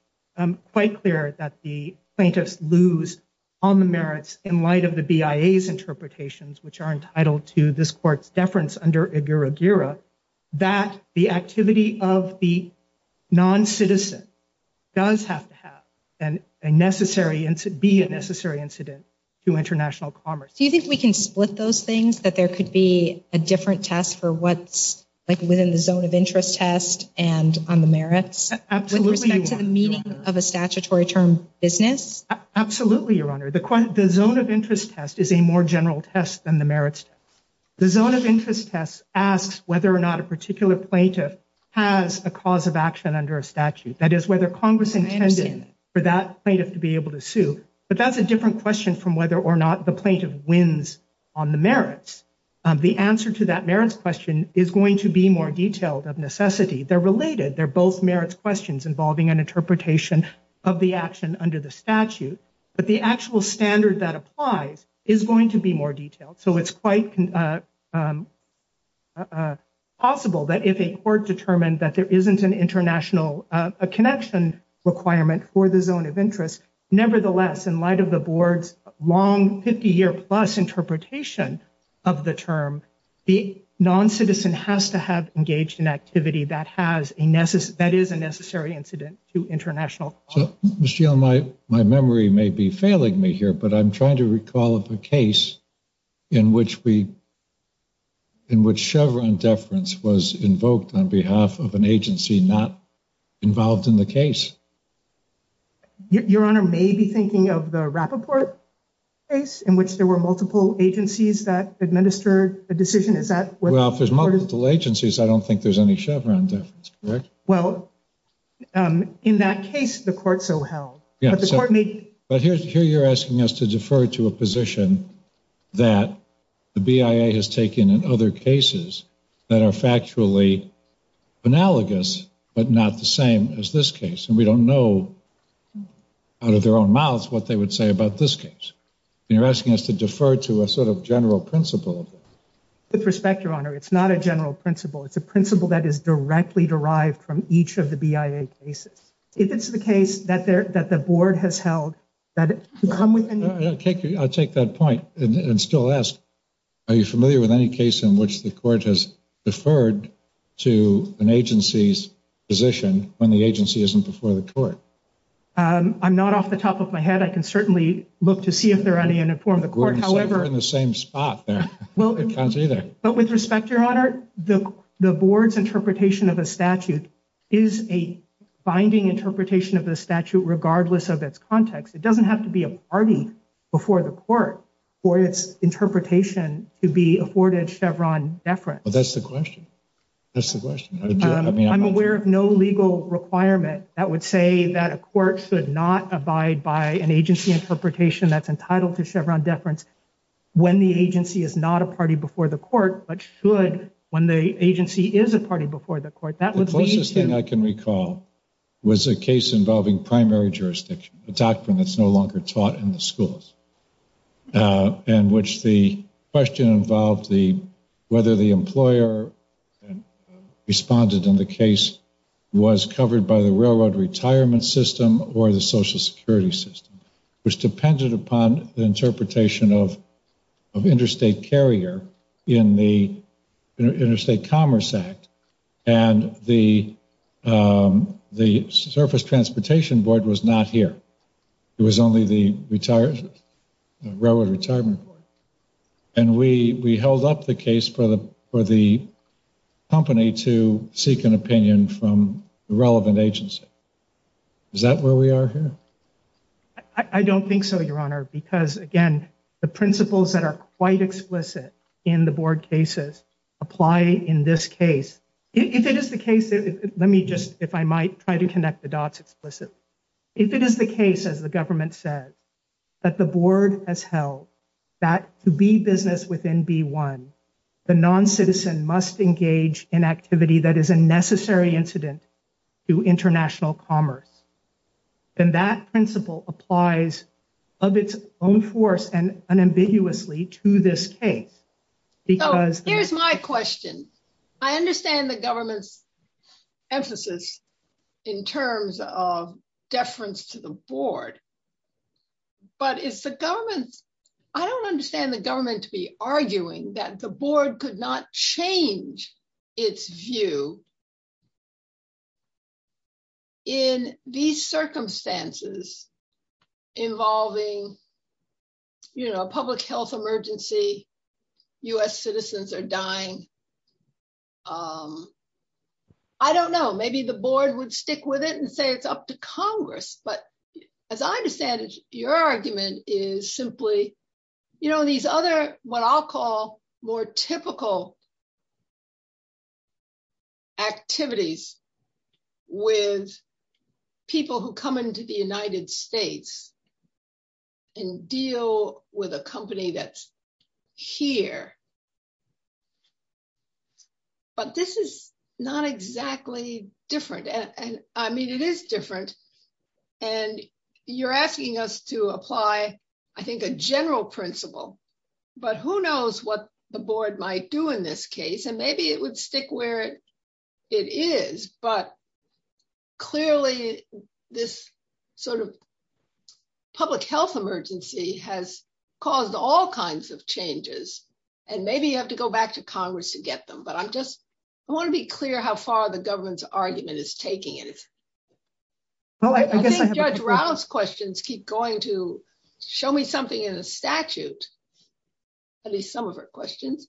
quite clear that the plaintiffs lose on the merits in light of the BIA's interpretations, which are entitled to this court's deference under AGURA-GURA, that the activity of the non-citizen does have to have a necessary incident, be a necessary incident to international commerce. Do you think we can split those things that there could be a different test for what's like within the zone of interest test and on the merits with respect to the meaning of a statutory term business? Absolutely, Your Honor. The zone of interest test is a more general test than the merits test. The zone of interest test asks whether or not a particular plaintiff has a cause of action under a statute. That is whether Congress intended for that plaintiff to be able to sue, but that's a different question from whether or not the plaintiff wins on the merits. The answer to that merits question is going to be more detailed of necessity. They're related, they're both merits questions involving an interpretation of the action under the statute, but the actual standard that applies is going to be more detailed. So it's quite possible that if a court determined that there isn't an international connection requirement for the zone of interest, nevertheless, in light of the board's long 50 year plus interpretation of the term, the non-citizen has to have engaged in activity that is a necessary incident to international law. Ms. Geale, my memory may be failing me here, but I'm trying to recall of a case in which Chevron deference was invoked on behalf of an agency not involved in the case. Your Honor may be thinking of the Rappaport case in which there were multiple agencies that administered a decision. Is that what- Well, if there's multiple agencies, I don't think there's any Chevron deference, correct? Well, in that case, the court so held. Yeah, but here you're asking us to defer to a position that the BIA has taken in other cases that are factually analogous, but not the same as this case. And we don't know out of their own mouths what they would say about this case. And you're asking us to defer to a sort of general principle. With respect, Your Honor, it's not a general principle. It's a principle that is directly derived from each of the BIA cases. If it's the case that the board has held, that it can come with- I'll take that point and still ask, are you familiar with any case in which the court has deferred to an agency's position when the agency isn't before the court? I'm not off the top of my head. I can certainly look to see if there are any in the form of the court. However- We're in the same spot there. Well- It counts either. But with respect, Your Honor, the board's interpretation of a statute is a binding interpretation of the statute regardless of its context. It doesn't have to be a party before the court for its interpretation to be afforded Chevron deference. Well, that's the question. That's the question. I'm aware of no legal requirement that would say that a court should not abide by an agency interpretation that's entitled to Chevron deference when the agency is not a party before the court, but should when the agency is a party before the court. That would lead to- The closest thing I can recall was a case involving primary jurisdiction, a doctrine that's no longer taught in the schools, in which the question involved whether the employer responded in the case was covered by the railroad retirement system or the social security system, which depended upon the interpretation of interstate carrier in the Interstate Commerce Act. And the Surface Transportation Board was not here. It was only the Railroad Retirement Board. And we held up the case for the company to seek an opinion from the relevant agency. Is that where we are here? I don't think so, Your Honor, because again, the principles that are quite explicit in the board cases apply in this case. If it is the case, let me just, if I might, try to connect the dots explicitly. If it is the case, as the government says, that the board has held that to be business within B1, the non-citizen must engage in activity that is a necessary incident to international commerce, then that principle applies of its own force and unambiguously to this case because- Here's my question. I understand the government's emphasis in terms of deference to the board, but is the government, I don't understand the government to be arguing that the board could not change its view in these circumstances involving, public health emergency, U.S. citizens are dying. I don't know. Maybe the board would stick with it and say it's up to Congress. But as I understand it, your argument is simply these other, what I'll call more typical activities with people who come into the United States and deal with a company that's here. But this is not exactly different. And I mean, it is different. And you're asking us to apply, I think a general principle, but who knows what the board might do in this case. And maybe it would stick where it is, but clearly this sort of public health emergency has caused all kinds of changes. And maybe you have to go back to Congress to get them, but I'm just, I wanna be clear how far the government's argument is taking it. Well, I guess I have a- I think Judge Rao's questions keep going to, show me something in a statute, at least some of her questions.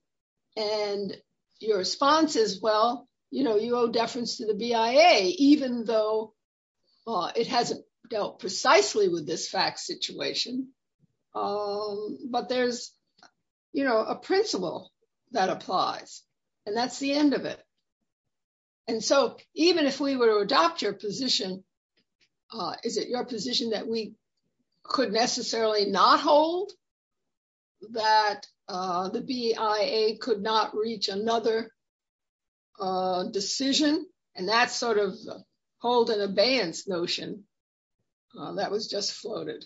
And your response is, well, you owe deference to the BIA, even though it hasn't dealt precisely with this fact situation, but there's a principle that applies and that's the end of it. And so even if we were to adopt your position, is it your position that we could necessarily not hold, that the BIA could not reach another decision? And that's sort of hold an abeyance notion that was just floated.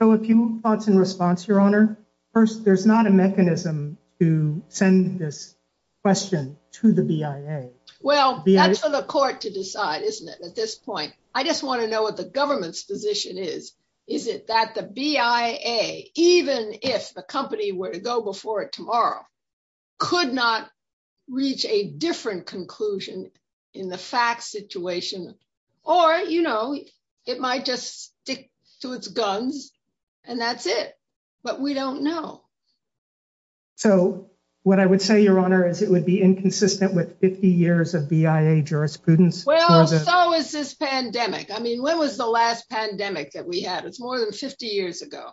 So a few thoughts in response, Your Honor. First, there's not a mechanism to send this question to the BIA. Well, that's for the court to decide, isn't it at this point? I just wanna know what the government's position is. Is it that the BIA, even if the company were to go before it tomorrow, could not reach a different conclusion in the fact situation, or it might just stick to its guns and that's it. But we don't know. So what I would say, Your Honor, is it would be inconsistent with 50 years of BIA jurisprudence. Well, so is this pandemic. I mean, when was the last pandemic that we had? It's more than 50 years ago.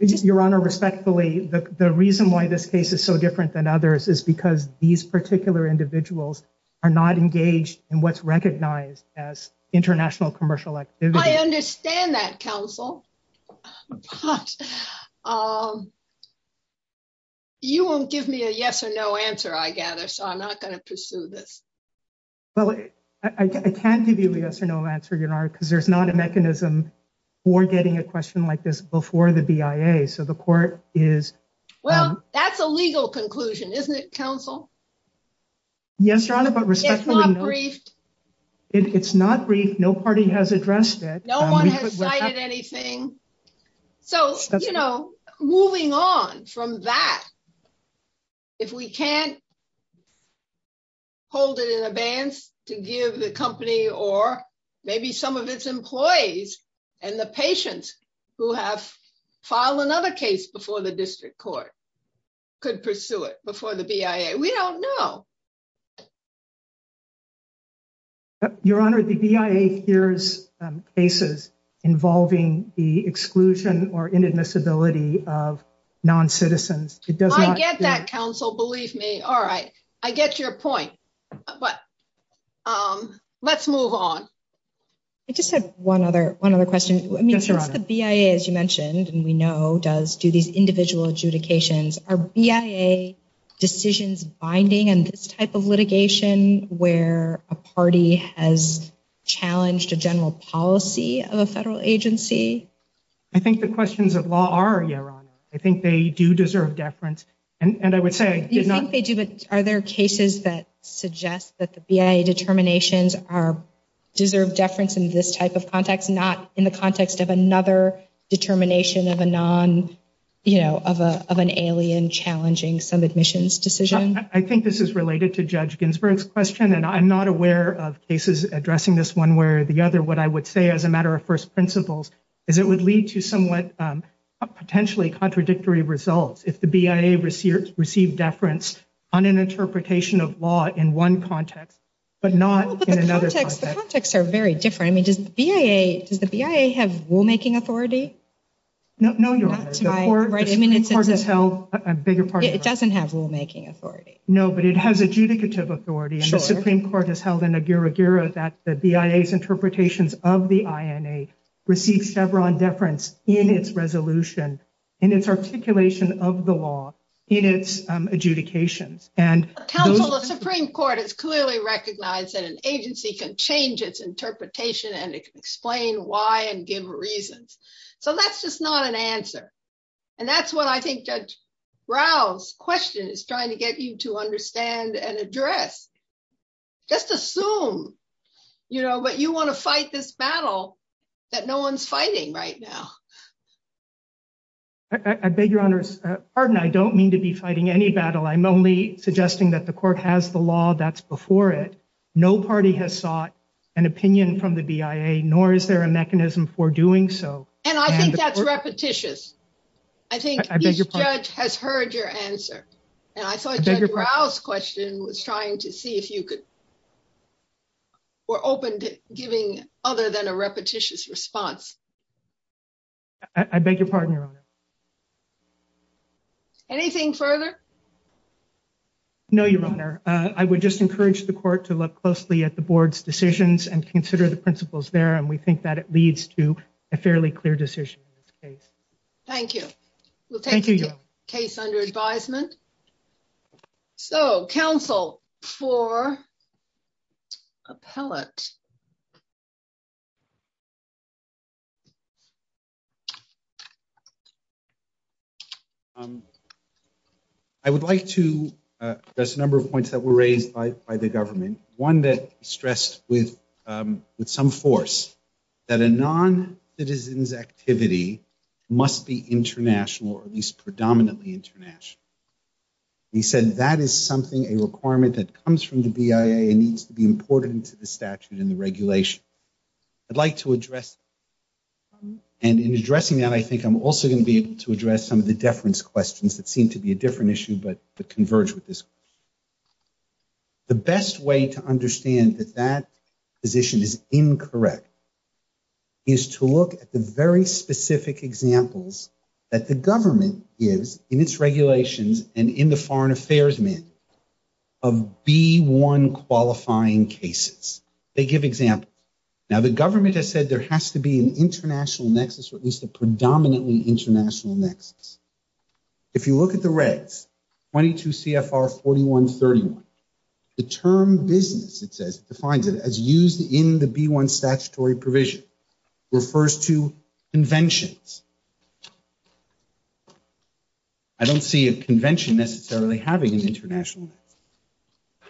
Your Honor, respectfully, the reason why this case is so different than others is because these particular individuals are not engaged in what's recognized as international commercial activity. I understand that, counsel. You won't give me a yes or no answer, I gather, so I'm not gonna pursue this. Well, I can't give you a yes or no answer, Your Honor, because there's not a mechanism for getting a question like this before the BIA. So the court is- Well, that's a legal conclusion, isn't it, counsel? Yes, Your Honor, but respectfully- It's not briefed. It's not briefed. No party has addressed it. No one has cited anything. So, you know, moving on from that, if we can't hold it in abeyance to give the company or maybe some of its employees and the patients who have filed another case before the district court could pursue it before the BIA, we don't know. Your Honor, the BIA hears cases involving the exclusion or inadmissibility of non-citizens. It does not- I get that, counsel, believe me. All right, I get your point, but let's move on. I just have one other question. Yes, Your Honor. I mean, it's the BIA, as you mentioned, and we know does do these individual adjudications. Are BIA decisions binding in this type of litigation where a party has challenged a general policy of a federal agency? I think the questions of law are, Your Honor. I think they do deserve deference. And I would say- You think they do, but are there cases that suggest that the BIA determinations deserve deference in this type of context, not in the context of another determination of a non, you know, of an alien challenging some admissions decision? I think this is related to Judge Ginsburg's question, and I'm not aware of cases addressing this one way or the other. What I would say as a matter of first principles is it would lead to somewhat potentially contradictory results if the BIA received deference on an interpretation of law in one context, but not in another context. Well, but the contexts are very different. I mean, does the BIA have rulemaking authority? No, Your Honor. The Supreme Court has held a bigger part of that. It doesn't have rulemaking authority. No, but it has adjudicative authority, and the Supreme Court has held an agura-gura that the BIA's interpretations of the INA received Chevron deference in its resolution, in its articulation of the law, in its adjudications. And those- Counsel, the Supreme Court has clearly recognized that an agency can change its interpretation and it can explain why and give reasons. So that's just not an answer. And that's what I think Judge Rao's question is trying to get you to understand and address. Just assume, you know, but you want to fight this battle that no one's fighting right now. I beg your honor's pardon. I don't mean to be fighting any battle. I'm only suggesting that the court has the law that's before it. No party has sought an opinion from the BIA, nor is there a mechanism for doing so. And I think that's repetitious. I think each judge has heard your answer. And I thought Judge Rao's question was trying to see if you could, were open to giving other than a repetitious response. I beg your pardon, your honor. Anything further? No, your honor. I would just encourage the court to look closely at the board's decisions and consider the principles there. And we think that it leads to a fairly clear decision in this case. Thank you. We'll take the case under advisement. So counsel for appellate. I would like to address a number of points that were raised by the government. One that stressed with some force that a non-citizen's activity must be international or at least predominantly international. He said that is something, a requirement that comes from the BIA and needs to be imported into the statute and the regulation. I'd like to address, and in addressing that, I think I'm also gonna be able to address some of the deference questions that seem to be a different issue, but that converge with this. The best way to understand that that position is incorrect is to look at the very specific examples that the government gives in its regulations and in the foreign affairs mandate of B1 qualifying cases. They give examples. Now the government has said there has to be an international nexus or at least a predominantly international nexus. If you look at the regs, 22 CFR 4131, the term business, it says, defines it as used in the B1 statutory provision, refers to conventions. I don't see a convention necessarily having an international nexus.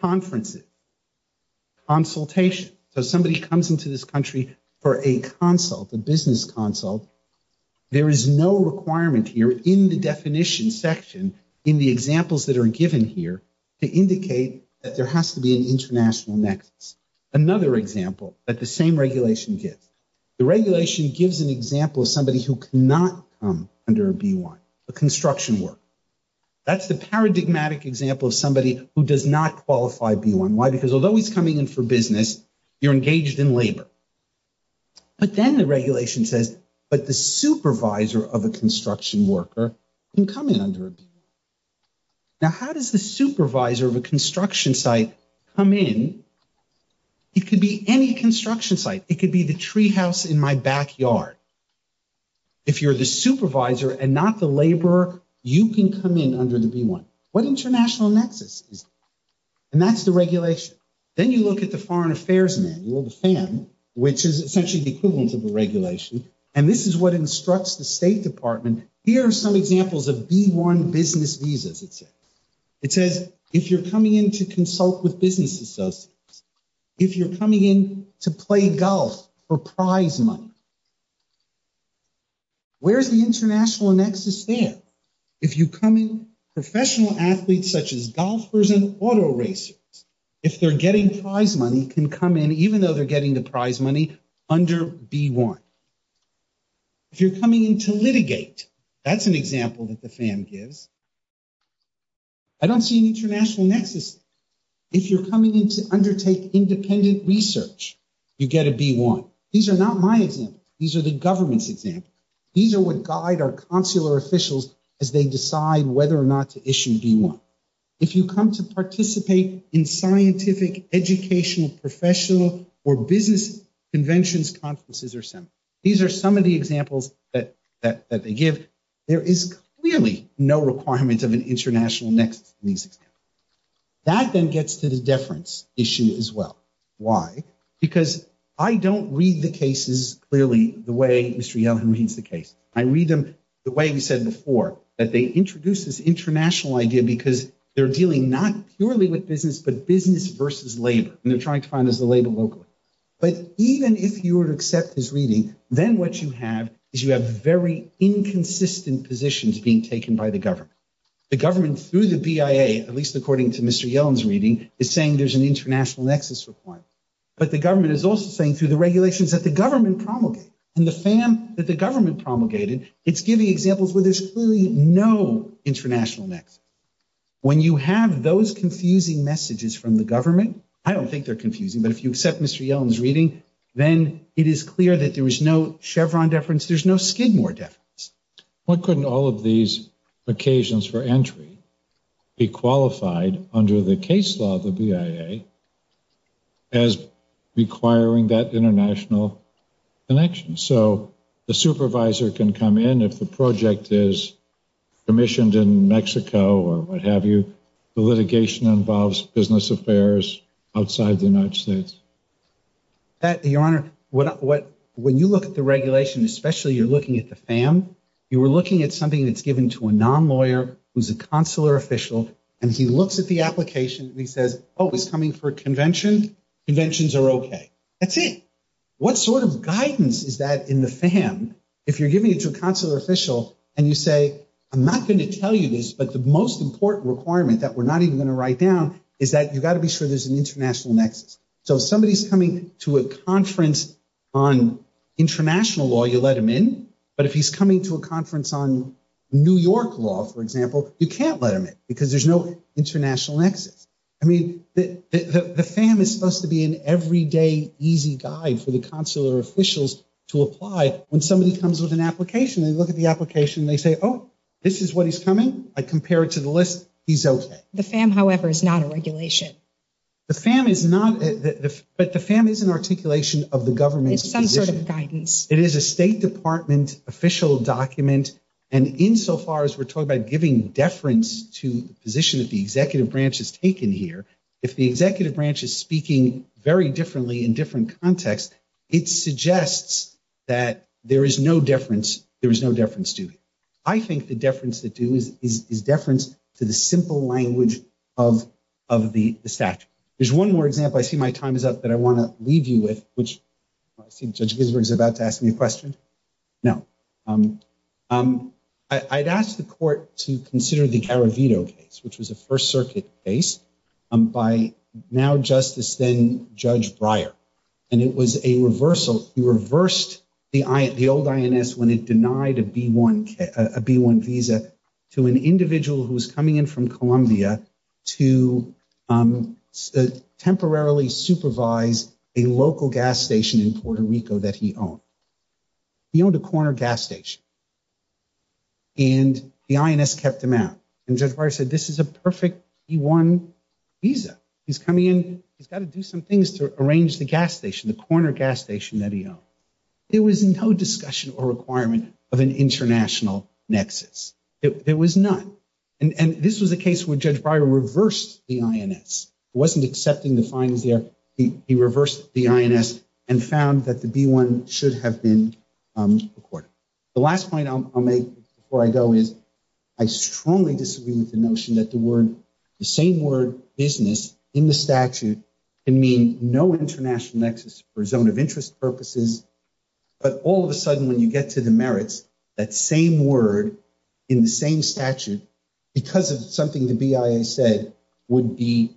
Conferences, consultation. So somebody comes into this country for a consult, a business consult. There is no requirement here in the definition section in the examples that are given here to indicate that there has to be an international nexus. Another example that the same regulation gives. The regulation gives an example of somebody who cannot come under a B1, a construction work. That's the paradigmatic example of somebody who does not qualify B1. Why? Because although he's coming in for business, you're engaged in labor. But then the regulation says, but the supervisor of a construction worker can come in under a B1. Now, how does the supervisor of a construction site come in? It could be any construction site. It could be the tree house in my backyard. If you're the supervisor and not the laborer, you can come in under the B1. What international nexus is it? And that's the regulation. Then you look at the Foreign Affairs Manual, the FAM, which is essentially the equivalent of the regulation. And this is what instructs the State Department. Here are some examples of B1 business visas, it says. It says, if you're coming in to consult with business associates, if you're coming in to play golf for prize money, where's the international nexus there? If you come in, professional athletes, such as golfers and auto racers, if they're getting prize money, can come in, even though they're getting the prize money, under B1. If you're coming in to litigate, that's an example that the FAM gives. I don't see an international nexus. If you're coming in to undertake independent research, you get a B1. These are not my examples. These are the government's examples. These are what guide our consular officials as they decide whether or not to issue B1. If you come to participate in scientific, educational, professional, or business conventions, conferences, or seminars. These are some of the examples that they give. There is clearly no requirement of an international nexus in these examples. That then gets to the deference issue as well. Why? Because I don't read the cases clearly the way Mr. Yellen reads the case. I read them the way we said before, that they introduce this international idea because they're dealing not purely with business, but business versus labor. And they're trying to find as the label locally. But even if you would accept this reading, then what you have is you have very inconsistent positions being taken by the government. The government through the BIA, at least according to Mr. Yellen's reading, is saying there's an international nexus requirement. But the government is also saying through the regulations that the government promulgated. And the FAM that the government promulgated, it's giving examples where there's clearly no international nexus. When you have those confusing messages from the government, I don't think they're confusing, but if you accept Mr. Yellen's reading, then it is clear that there was no Chevron deference, there's no Skidmore deference. What couldn't all of these occasions for entry be qualified under the case law of the BIA as requiring that international connection? So the supervisor can come in and if the project is commissioned in Mexico or what have you, the litigation involves business affairs outside the United States. Your Honor, when you look at the regulation, especially you're looking at the FAM, you were looking at something that's given to a non-lawyer who's a consular official, and he looks at the application and he says, oh, it's coming for a convention, conventions are okay. That's it. What sort of guidance is that in the FAM if you're giving it to a consular official and you say, I'm not gonna tell you this, but the most important requirement that we're not even gonna write down is that you gotta be sure there's an international nexus. So if somebody is coming to a conference on international law, you let them in, but if he's coming to a conference on New York law, for example, you can't let them in because there's no international nexus. I mean, the FAM is supposed to be an everyday easy guide for the consular officials to apply when somebody comes with an application, they look at the application and they say, oh, this is what he's coming, I compare it to the list, he's okay. The FAM, however, is not a regulation. The FAM is not, but the FAM is an articulation of the government's position. It's some sort of guidance. It is a state department official document and insofar as we're talking about giving deference to the position that the executive branch has taken here, if the executive branch is speaking very differently in different contexts, it suggests that there is no deference, there is no deference to it. I think the deference to do is deference to the simple language of the statute. There's one more example, I see my time is up, but I wanna leave you with, which I see Judge Ginsburg is about to ask me a question. No. I'd asked the court to consider the Garavito case, which was a First Circuit case by now Justice then Judge Breyer, and it was a reversal. He reversed the old INS when it denied a B-1 visa to an individual who was coming in from Columbia to temporarily supervise a local gas station in Puerto Rico that he owned. He owned a corner gas station and the INS kept him out. And Judge Breyer said, this is a perfect B-1 visa. He's coming in, he's gotta do some things to arrange the gas station, the corner gas station that he owned. There was no discussion or requirement of an international nexus, there was none. And this was a case where Judge Breyer reversed the INS, wasn't accepting the fines there, he reversed the INS and found that the B-1 should have been recorded. The last point I'll make before I go is, I strongly disagree with the notion that the same word business in the statute can mean no international nexus for zone of interest purposes, but all of a sudden when you get to the merits, that same word in the same statute, because of something the BIA said would be,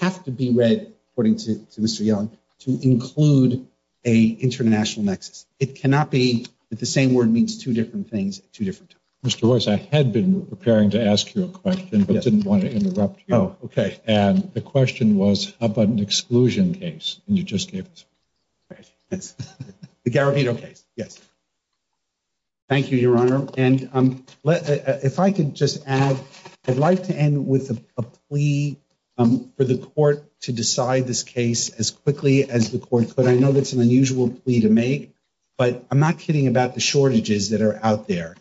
have to be read, according to Mr. Young, to include a international nexus. It cannot be that the same word means two different things at two different times. Mr. Royce, I had been preparing to ask you a question, but didn't want to interrupt you. Oh, okay. And the question was, how about an exclusion case? And you just gave it to me. Yes, the Garibedo case, yes. Thank you, Your Honor. And if I could just add, I'd like to end with a plea for the court to decide this case as quickly as the court could. I know that's an unusual plea to make, but I'm not kidding about the shortages that are out there.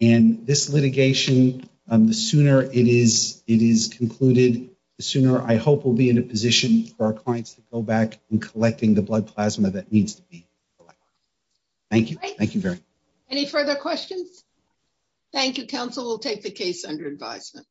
And this litigation, the sooner it is concluded, the sooner I hope we'll be in a position for our clients to go back in collecting the blood plasma that needs to be collected. Thank you, thank you very much. Any further questions? Thank you, counsel. We'll take the case under advisement.